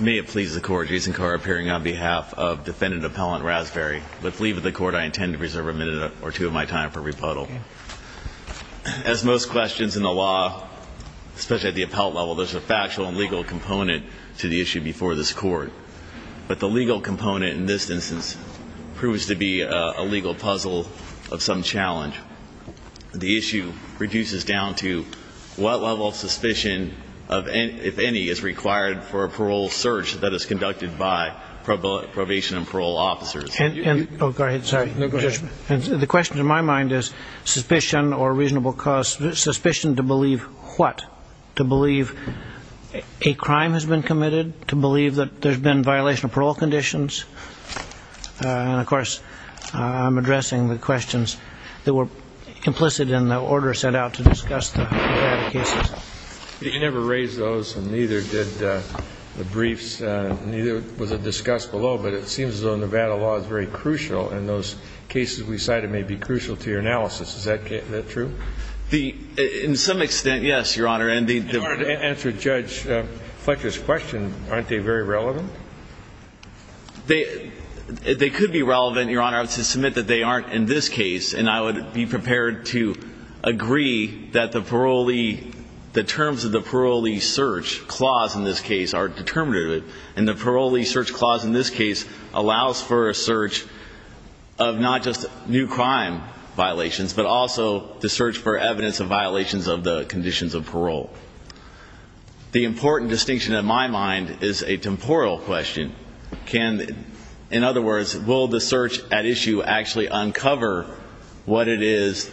May it please the court, Jason Carr appearing on behalf of defendant appellant Rasberry. With leave of the court I intend to preserve a minute or two of my time for rebuttal. As most questions in the law, especially at the appellate level, there's a factual and legal component to the issue before this court. But the legal component in this instance proves to be a legal puzzle of some challenge. The issue reduces down to what level of suspicion, if any, is required for a parole search that is conducted by probation and parole officers. The question to my mind is suspicion or reasonable cause, suspicion to believe what? To believe a crime has been committed? To believe that there's been violation of parole conditions? And of course I'm addressing the questions that were implicit in the order sent out to discuss the Nevada cases. You never raised those and neither did the briefs, neither was it discussed below, but it seems as though Nevada law is very crucial and those cases we cited may be crucial to your analysis. Is that true? In some extent, yes, Your Honor. In order to answer Judge Fletcher's question, aren't they very relevant? They could be relevant, Your Honor. I would submit that they aren't in this case and I would be prepared to agree that the parolee, the terms of the parolee search clause in this case are determinative. And the parolee search clause in this case allows for a search of not just new crime violations, but also the search for evidence of violations of the conditions of parole. The important distinction in my mind is a temporal question. In other words, will the search at issue actually uncover what it is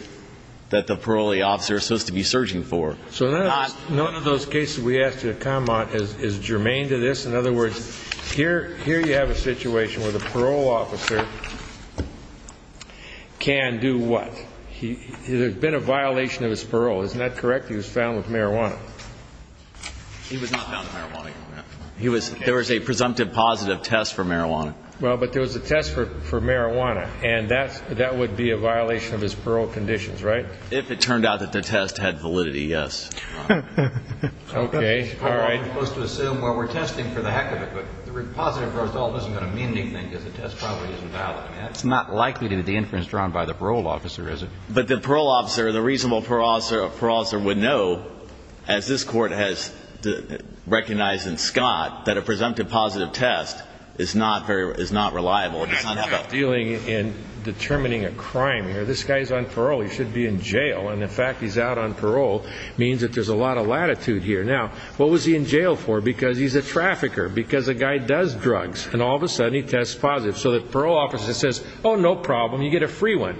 that the parolee officer is supposed to be searching for? None of those cases we asked you to comment is germane to this. In other words, here you have a situation where the parole officer can do what? There's been a violation of his parole. Isn't that correct? He was found with marijuana. He was not found with marijuana, Your Honor. There was a presumptive positive test for marijuana. Well, but there was a test for marijuana and that would be a violation of his parole conditions, right? If it turned out that the test had validity, yes. Okay. All right. The positive result isn't going to mean anything because the test probably isn't valid. That's not likely to be the inference drawn by the parole officer, is it? But the parole officer, the reasonable parole officer would know, as this Court has recognized in Scott, that a presumptive positive test is not reliable. I'm not dealing in determining a crime here. This guy's on parole. He should be in jail. And the fact he's out on parole means that there's a lot of latitude here. Now, what was he in jail for? Because he's a trafficker. Because a guy does drugs. And all of a sudden he tests positive. So the parole officer says, oh, no problem. You get a free one.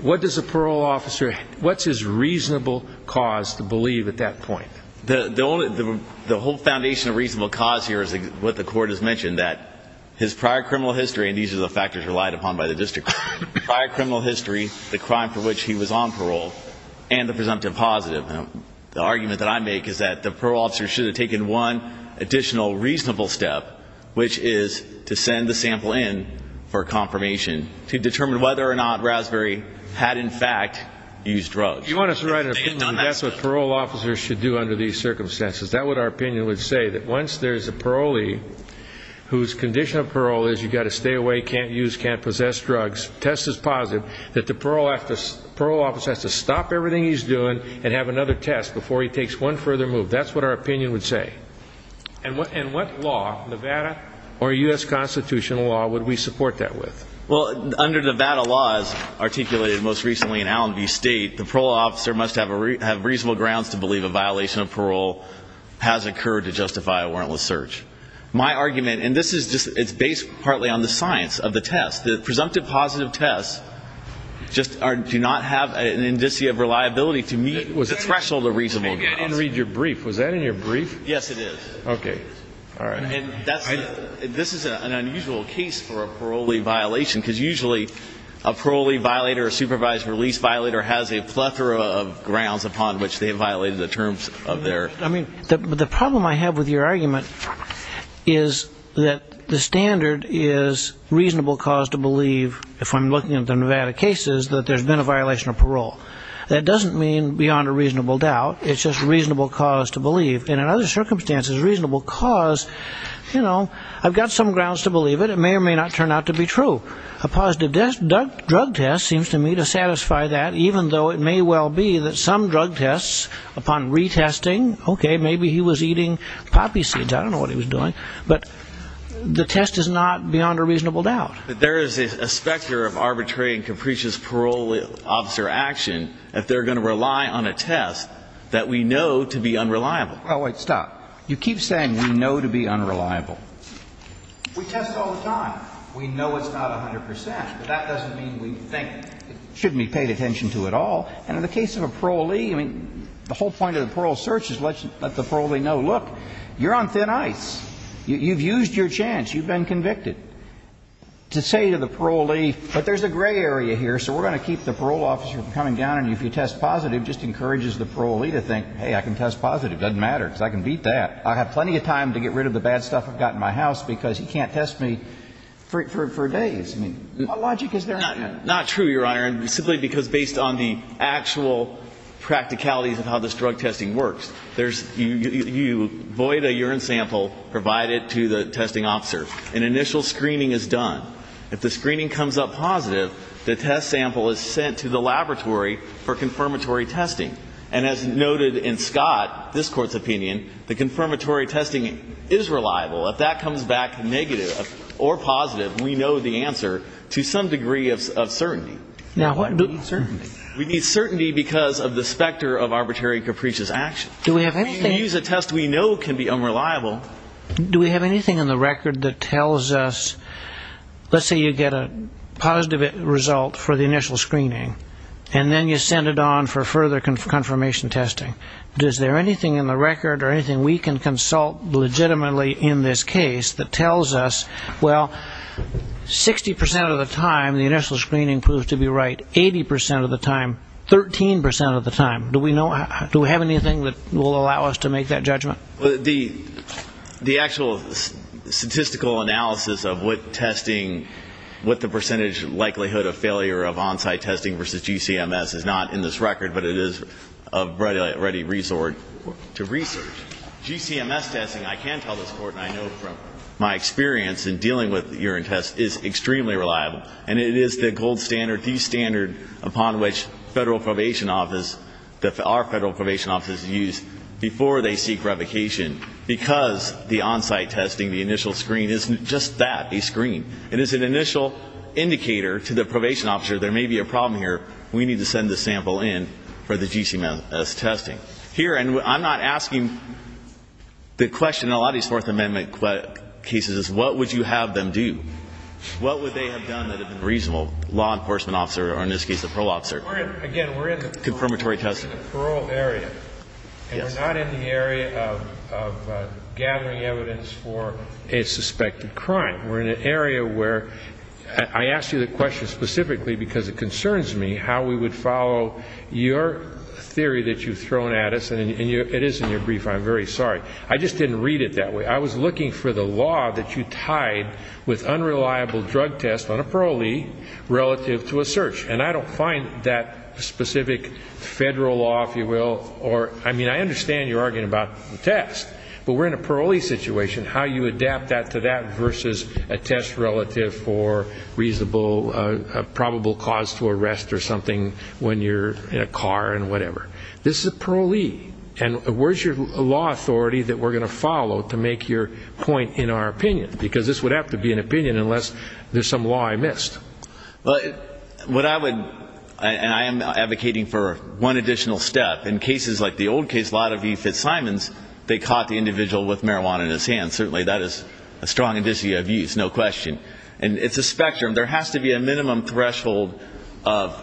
What does a parole officer what's his reasonable cause to believe at that point? The whole foundation of reasonable cause here is what the Court has mentioned, that his prior criminal history, and these are the factors relied upon by the district court, prior criminal history, the crime for which he was on parole, and the presumptive positive. The argument that I make is that the parole officer should have taken one additional reasonable step, which is to send the sample in for confirmation to determine whether or not Raspberry had in fact used drugs. That's what parole officers should do under these circumstances. That's what our opinion would say, that once there's a parolee whose condition of parole is you've got to stay away, can't use, can't possess drugs, test is positive, that the parole officer has to stop everything he's doing and have another test before he takes one further move. That's what our opinion would say. And what law, Nevada or U.S. constitutional law would we support that with? Well, under Nevada laws, articulated most recently in Allenby State, the parole officer must have reasonable grounds to believe a violation of parole has occurred to justify a warrantless search. My argument, and this is just, it's based partly on the science of the test. The presumptive positive tests just do not have an indicia of reliability to meet the threshold of reasonable grounds. I didn't read your brief. Was that in your brief? Yes, it is. This is an unusual case for a parolee violation, because usually a parolee violator, a supervised release violator, has a plethora of grounds upon which they have violated the terms of their... The problem I have with your argument is that the standard is reasonable cause to believe, if I'm looking at the Nevada cases, that there's been a violation of parole. That doesn't mean beyond a reasonable doubt. It's just reasonable cause to believe. And in other circumstances, reasonable cause, you know, I've got some grounds to believe it. It may or may not turn out to be true. A positive drug test seems to me to satisfy that, even though it may well be that some drug tests, upon retesting, okay, maybe he was eating poppy seeds. I don't know what he was doing. But the test is not beyond a reasonable doubt. There is a specter of arbitrary and capricious parole officer action if they're going to rely on a test that we know to be unreliable. Oh, wait, stop. You keep saying we know to be unreliable. We test all the time. We know it's not 100 percent, but that doesn't mean we think it shouldn't be paid attention to at all. And in the case of a parolee, I mean, the whole point of the parole search is let the parolee know, look, you're on thin ice. You've used your chance. You've been convicted. To say to the parolee, but there's a gray area here, so we're going to keep the parole officer from coming down on you if you test positive just encourages the parolee to think, hey, I can test positive. It doesn't matter because I can beat that. I have plenty of time to get rid of the bad stuff I've got in my house because he can't test me for days. I mean, what logic is there in that? Not true, Your Honor, simply because based on the actual practicalities of how this drug testing works, you void a urine sample, provide it to the testing officer. An initial screening is done. If the screening comes up positive, the test sample is sent to the laboratory for confirmatory testing. And as noted in Scott, this Court's opinion, the confirmatory testing is reliable. If that comes back negative or positive, we know the answer to some degree of certainty. Now, what about certainty? We need certainty because of the specter of arbitrary capricious action. We can use a test we know can be unreliable. Do we have anything in the record that tells us, let's say you get a positive result for the initial screening, and then you send it on for further confirmation testing. Is there anything in the record or anything we can consult legitimately in this case that tells us, Well, 60% of the time, the initial screening proves to be right. 80% of the time, 13% of the time. Do we have anything that will allow us to make that judgment? The actual statistical analysis of what testing, what the percentage likelihood of failure of on-site testing versus GCMS is not in this record, but it is a ready resort to research. GCMS testing, I can tell this Court, and I know from my experience in dealing with urine tests, is extremely reliable. And it is the gold standard, the standard upon which federal probation offices, our federal probation offices use before they seek revocation, because the on-site testing, the initial screen, isn't just that, a screen. It is an initial indicator to the probation officer, there may be a problem here, we need to send the sample in for the GCMS testing. Here, and I'm not asking the question in a lot of these Fourth Amendment cases, is what would you have them do? What would they have done that a reasonable law enforcement officer, or in this case, a parole officer, Again, we're in the parole area. And we're not in the area of gathering evidence for a suspected crime. We're in an area where, I ask you the question specifically because it concerns me, how we would follow your theory that you've thrown at us, and it is in your brief, I'm very sorry. I just didn't read it that way. I was looking for the law that you tied with unreliable drug tests on a parolee relative to a search. And I don't find that specific federal law, if you will, or, I mean, I understand you're arguing about the test, but we're in a parolee situation, how you adapt that to that versus a test relative for reasonable probable cause to arrest or something when you're in a car and whatever. This is a parolee. And where's your law authority that we're going to follow to make your point in our opinion? Because this would have to be an opinion unless there's some law I missed. Well, what I would, and I am advocating for one additional step. In cases like the old case, Lotta v. Fitzsimons, they caught the individual with marijuana in his hand. Certainly that is a strong indicia of use, no question. And it's a spectrum. There has to be a minimum threshold of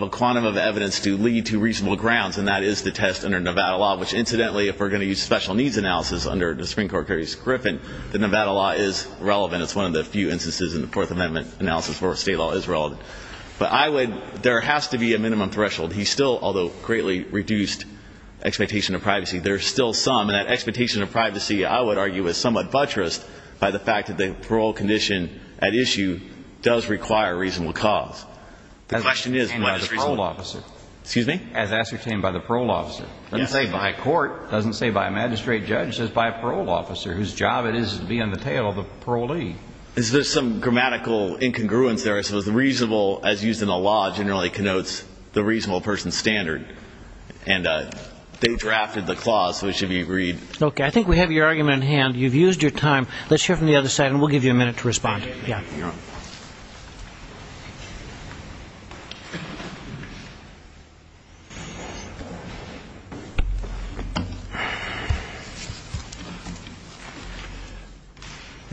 a quantum of evidence to lead to reasonable grounds, and that is the test under Nevada law, which, incidentally, if we're going to use special needs analysis under the Supreme Court case, Griffin, the Nevada law is relevant. It's one of the few instances in the Fourth Amendment analysis where state law is relevant. But I would, there has to be a minimum threshold. He still, although greatly reduced expectation of privacy, there's still some, and that expectation of privacy, I would argue, is somewhat buttressed by the fact that the parole condition at issue does require a reasonable cause. The question is whether it's reasonable. As ascertained by the parole officer. Excuse me? As ascertained by the parole officer. Yes. It doesn't say by a court. It doesn't say by a magistrate judge. It says by a parole officer whose job it is to be on the tail of the parolee. Is there some grammatical incongruence there as to whether reasonable, as used in the law, generally connotes the reasonable person's standard? And they drafted the clause, so it should be read. Okay. I think we have your argument in hand. You've used your time. Let's hear from the other side, and we'll give you a minute to respond. Okay. Thank you, Your Honor.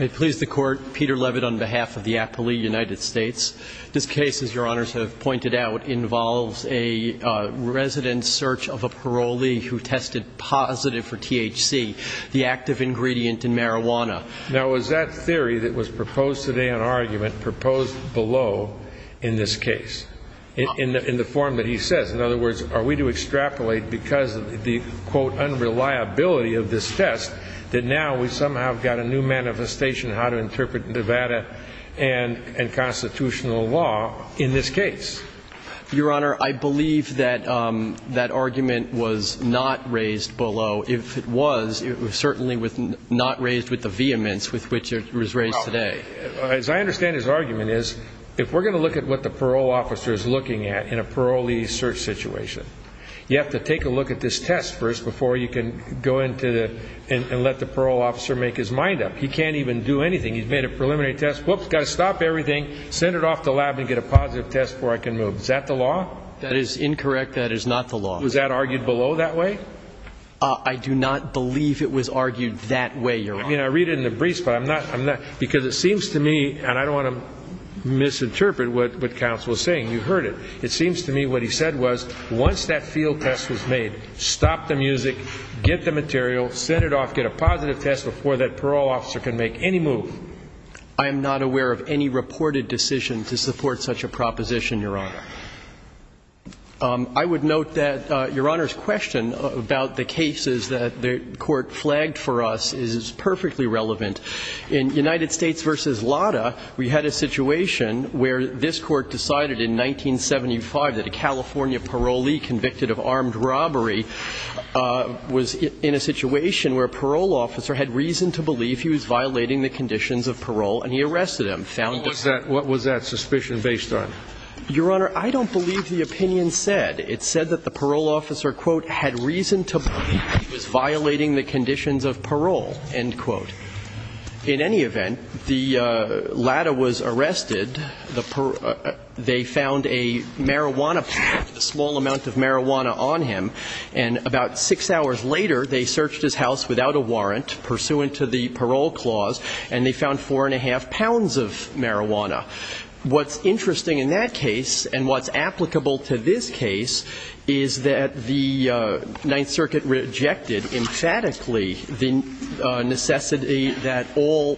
May it please the Court, Peter Leavitt on behalf of the appellee, United States. This case, as Your Honors have pointed out, involves a resident's search of a parolee who tested positive for THC, the active ingredient in marijuana. Now, is that theory that was proposed today on argument proposed below in this case in the form that he says? In other words, are we to extrapolate because of the, quote, unreliability of this test that now we somehow have got a new manifestation of how to interpret Nevada and constitutional law in this case? Your Honor, I believe that that argument was not raised below. If it was, it was certainly not raised with the vehemence with which it was raised today. As I understand his argument is, if we're going to look at what the parole officer is looking at in a parolee search situation, you have to take a look at this test first before you can go into it and let the parole officer make his mind up. He can't even do anything. He's made a preliminary test. Whoops, got to stop everything, send it off to the lab, and get a positive test before I can move. Is that the law? That is incorrect. That is not the law. Was that argued below that way? I do not believe it was argued that way, Your Honor. I mean, I read it in the briefs, but I'm not, because it seems to me, and I don't want to misinterpret what counsel is saying. You heard it. It seems to me what he said was once that field test was made, stop the music, get the material, send it off, get a positive test before that parole officer can make any move. I am not aware of any reported decision to support such a proposition, Your Honor. I would note that Your Honor's question about the cases that the Court flagged for us is perfectly relevant. In United States v. Lada, we had a situation where this Court decided in 1975 that a California parolee convicted of armed robbery was in a situation where a parole officer had reason to believe he was violating the conditions of parole and he arrested him. What was that suspicion based on? Your Honor, I don't believe the opinion said. It said that the parole officer, quote, had reason to believe he was violating the conditions of parole, end quote. In any event, the Lada was arrested. They found a marijuana, a small amount of marijuana on him. And about six hours later, they searched his house without a warrant, pursuant to the parole clause, and they found four and a half pounds of marijuana. What's interesting in that case and what's applicable to this case is that the Ninth Circuit rejected emphatically the necessity that all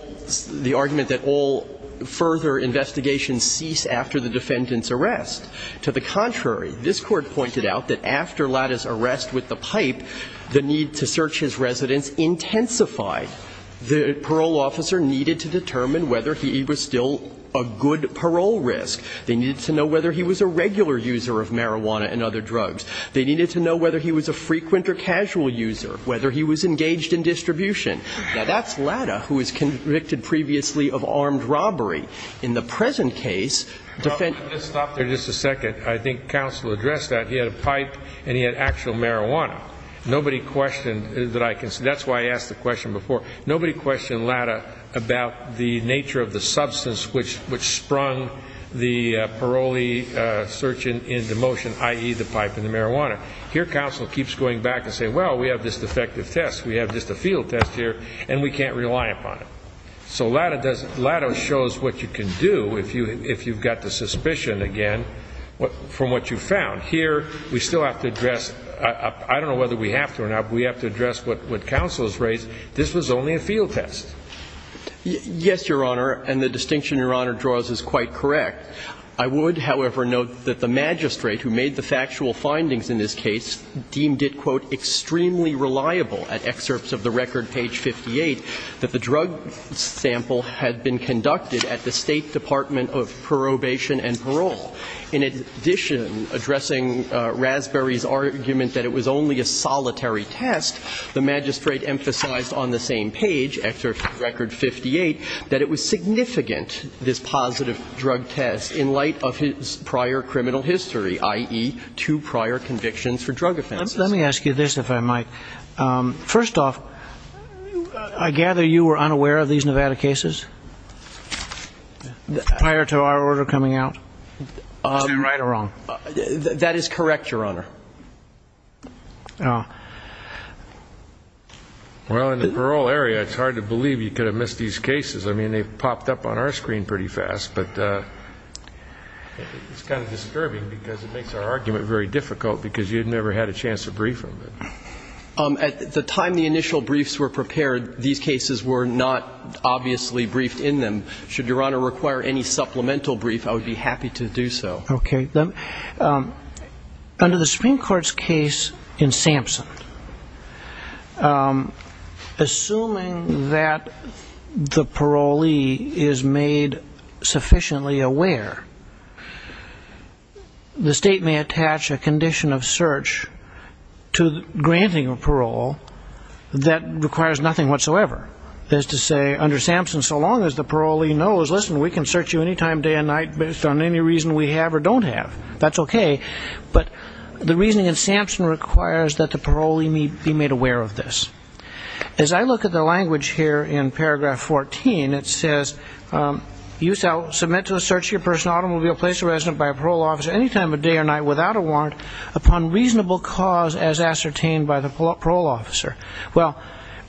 the argument that all further investigations cease after the defendant's arrest. To the contrary, this Court pointed out that after Lada's arrest with the pipe, the need to search his residence intensified. The parole officer needed to determine whether he was still a good parole risk. They needed to know whether he was a regular user of marijuana and other drugs. They needed to know whether he was a frequent or casual user, whether he was engaged in distribution. Now, that's Lada, who was convicted previously of armed robbery. In the present case, defendant ---- Robert, let me just stop there just a second. I think counsel addressed that. He had a pipe and he had actual marijuana. Nobody questioned that I can say. That's why I asked the question before. Nobody questioned Lada about the nature of the substance which sprung the parole search into motion, i.e., the pipe and the marijuana. Here, counsel keeps going back and saying, well, we have this defective test. We have just a field test here, and we can't rely upon it. So Lada does ---- Lada shows what you can do if you've got the suspicion again from what you found. Here, we still have to address ---- I don't know whether we have to or not, but we have to address what counsel has raised. This was only a field test. Yes, Your Honor, and the distinction Your Honor draws is quite correct. I would, however, note that the magistrate who made the factual findings in this case deemed it, quote, extremely reliable at excerpts of the record, page 58, that the drug sample had been conducted at the State Department of Probation and Parole. In addition, addressing Raspberry's argument that it was only a solitary test, the magistrate emphasized on the same page, excerpt from record 58, that it was significant this positive drug test in light of his prior criminal history, i.e., two prior convictions for drug offenses. Let me ask you this, if I might. First off, I gather you were unaware of these Nevada cases prior to our order coming out? Is that right or wrong? That is correct, Your Honor. Well, in the parole area, it's hard to believe you could have missed these cases. I mean, they've popped up on our screen pretty fast, but it's kind of disturbing because it makes our argument very difficult because you had never had a chance to brief them. At the time the initial briefs were prepared, these cases were not obviously briefed in them. Should Your Honor require any supplemental brief, I would be happy to do so. Okay. Under the Supreme Court's case in Sampson, assuming that the parolee is made sufficiently aware, the state may attach a condition of search to granting a parole that requires nothing whatsoever. That is to say, under Sampson, so long as the parolee knows, listen, we can search you any time, day or night, based on any reason we have or don't have. That's okay. But the reasoning in Sampson requires that the parolee be made aware of this. As I look at the language here in paragraph 14, it says, you shall submit to a search of your personal automobile, place of residence by a parole officer, any time of day or night without a warrant, upon reasonable cause as ascertained by the parole officer. Well,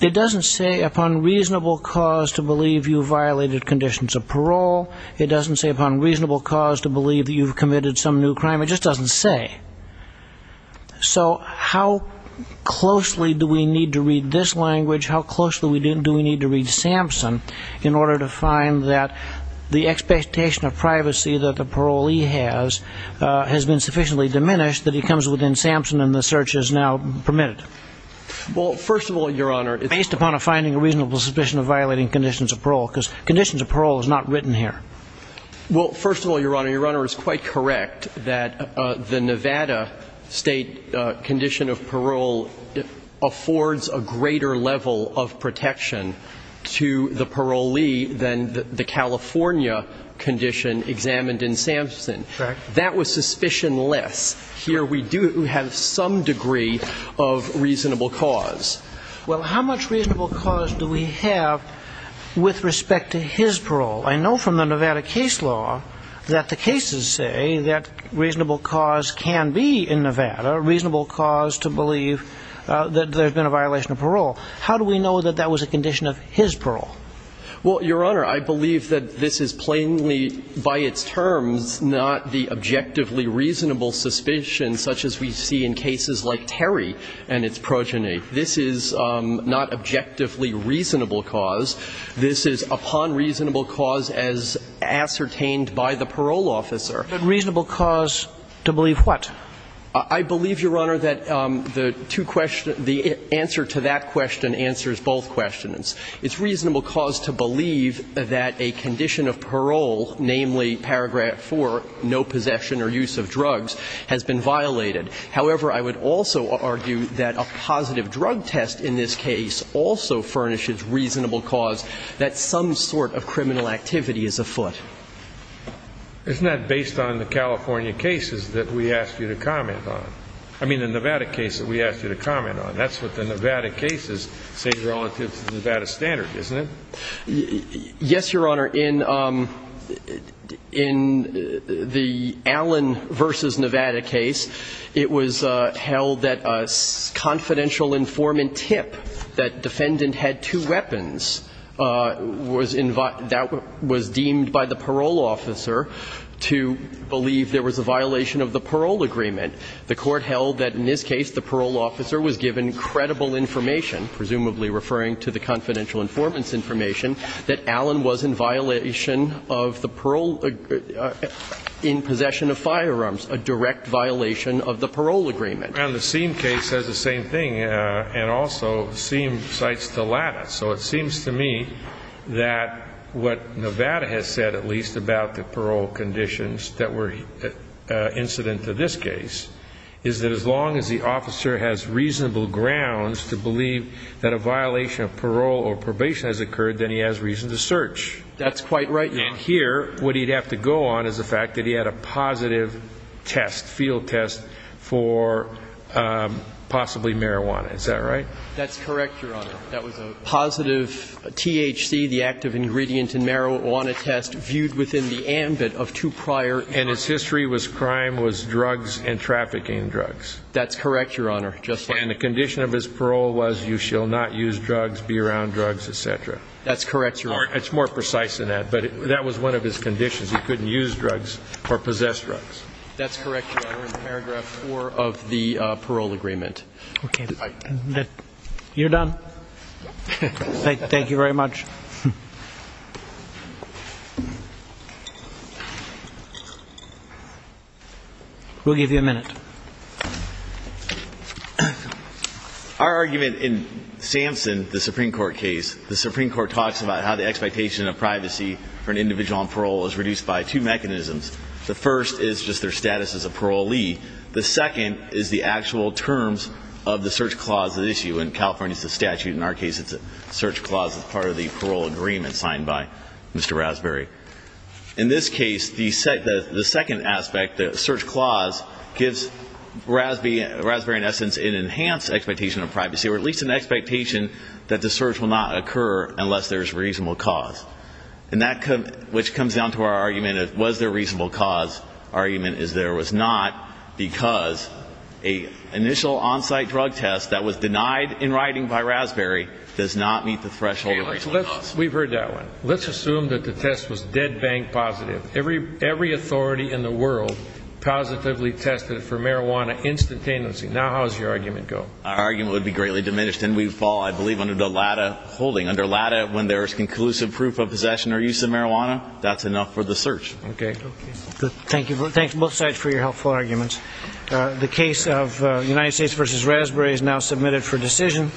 it doesn't say upon reasonable cause to believe you violated conditions of parole. It doesn't say upon reasonable cause to believe that you've committed some new crime. It just doesn't say. So how closely do we need to read this language, how closely do we need to read Sampson, in order to find that the expectation of privacy that the parolee has has been sufficiently diminished that he comes within Sampson and the search is now permitted? Well, first of all, Your Honor, based upon a finding of reasonable suspicion of violating conditions of parole, because conditions of parole is not written here. Well, first of all, Your Honor, Your Honor is quite correct that the Nevada state condition of parole affords a greater level of protection to the parolee than the California condition examined in Sampson. Correct. That was suspicion-less. Here we do have some degree of reasonable cause. Well, how much reasonable cause do we have with respect to his parole? I know from the Nevada case law that the cases say that reasonable cause can be in Nevada, reasonable cause to believe that there's been a violation of parole. How do we know that that was a condition of his parole? Well, Your Honor, I believe that this is plainly by its terms not the objectively reasonable suspicion such as we see in cases like Terry and its progeny. This is not objectively reasonable cause. This is upon reasonable cause as ascertained by the parole officer. But reasonable cause to believe what? I believe, Your Honor, that the two questions the answer to that question answers both questions. It's reasonable cause to believe that a condition of parole, namely paragraph 4, no possession or use of drugs, has been violated. However, I would also argue that a positive drug test in this case also furnishes reasonable cause that some sort of criminal activity is afoot. Isn't that based on the California cases that we asked you to comment on? I mean, the Nevada case that we asked you to comment on. That's what the Nevada cases say relative to the Nevada standard, isn't it? Yes, Your Honor. In the Allen v. Nevada case, it was held that a confidential informant tip that defendant had two weapons was deemed by the parole officer to believe there was a violation of the parole agreement. The Court held that in this case the parole officer was given credible information, presumably referring to the confidential informant's information, that Allen was in violation of the parole in possession of firearms, a direct violation of the parole agreement. And the Seem case says the same thing, and also Seem cites the latter. So it seems to me that what Nevada has said at least about the parole conditions that were incident to this case is that as long as the officer has reasonable grounds to believe that a violation of parole or probation has occurred, then he has reason to search. That's quite right, Your Honor. And here, what he'd have to go on is the fact that he had a positive test, field test, for possibly marijuana. Is that right? That's correct, Your Honor. That was a positive THC, the active ingredient in marijuana test, viewed within the ambit of two prior charges. And its history was crime, was drugs, and trafficking drugs. That's correct, Your Honor. And the condition of his parole was you shall not use drugs, be around drugs, et cetera. That's correct, Your Honor. It's more precise than that. But that was one of his conditions. He couldn't use drugs or possess drugs. That's correct, Your Honor, in paragraph four of the parole agreement. Okay. You're done? Thank you very much. We'll give you a minute. Our argument in Sampson, the Supreme Court case, the Supreme Court talks about how the expectation of privacy for an individual on parole is reduced by two mechanisms. The first is just their status as a parolee. The second is the actual terms of the search clause at issue. In California, it's the statute. In our case, it's a search clause as part of the parole agreement signed by Mr. Raspberry. In this case, the second aspect, the search clause, gives Raspberry, in essence, an enhanced expectation of privacy or at least an expectation that the search will not occur unless there is reasonable cause. And that comes down to our argument of was there a reasonable cause. The argument is there was not because an initial on-site drug test that was denied in writing by Raspberry does not meet the threshold of reasonable cause. Okay. We've heard that one. Let's assume that the test was dead bank positive. Every authority in the world positively tested for marijuana instantaneously. Now how does your argument go? Our argument would be greatly diminished, and we'd fall, I believe, under the latter holding. Under latter, when there is conclusive proof of possession or use of marijuana, that's enough for the search. Okay. Okay. Good. Thank you. Thanks both sides for your helpful arguments. The case of United States v. Raspberry is now submitted for decision.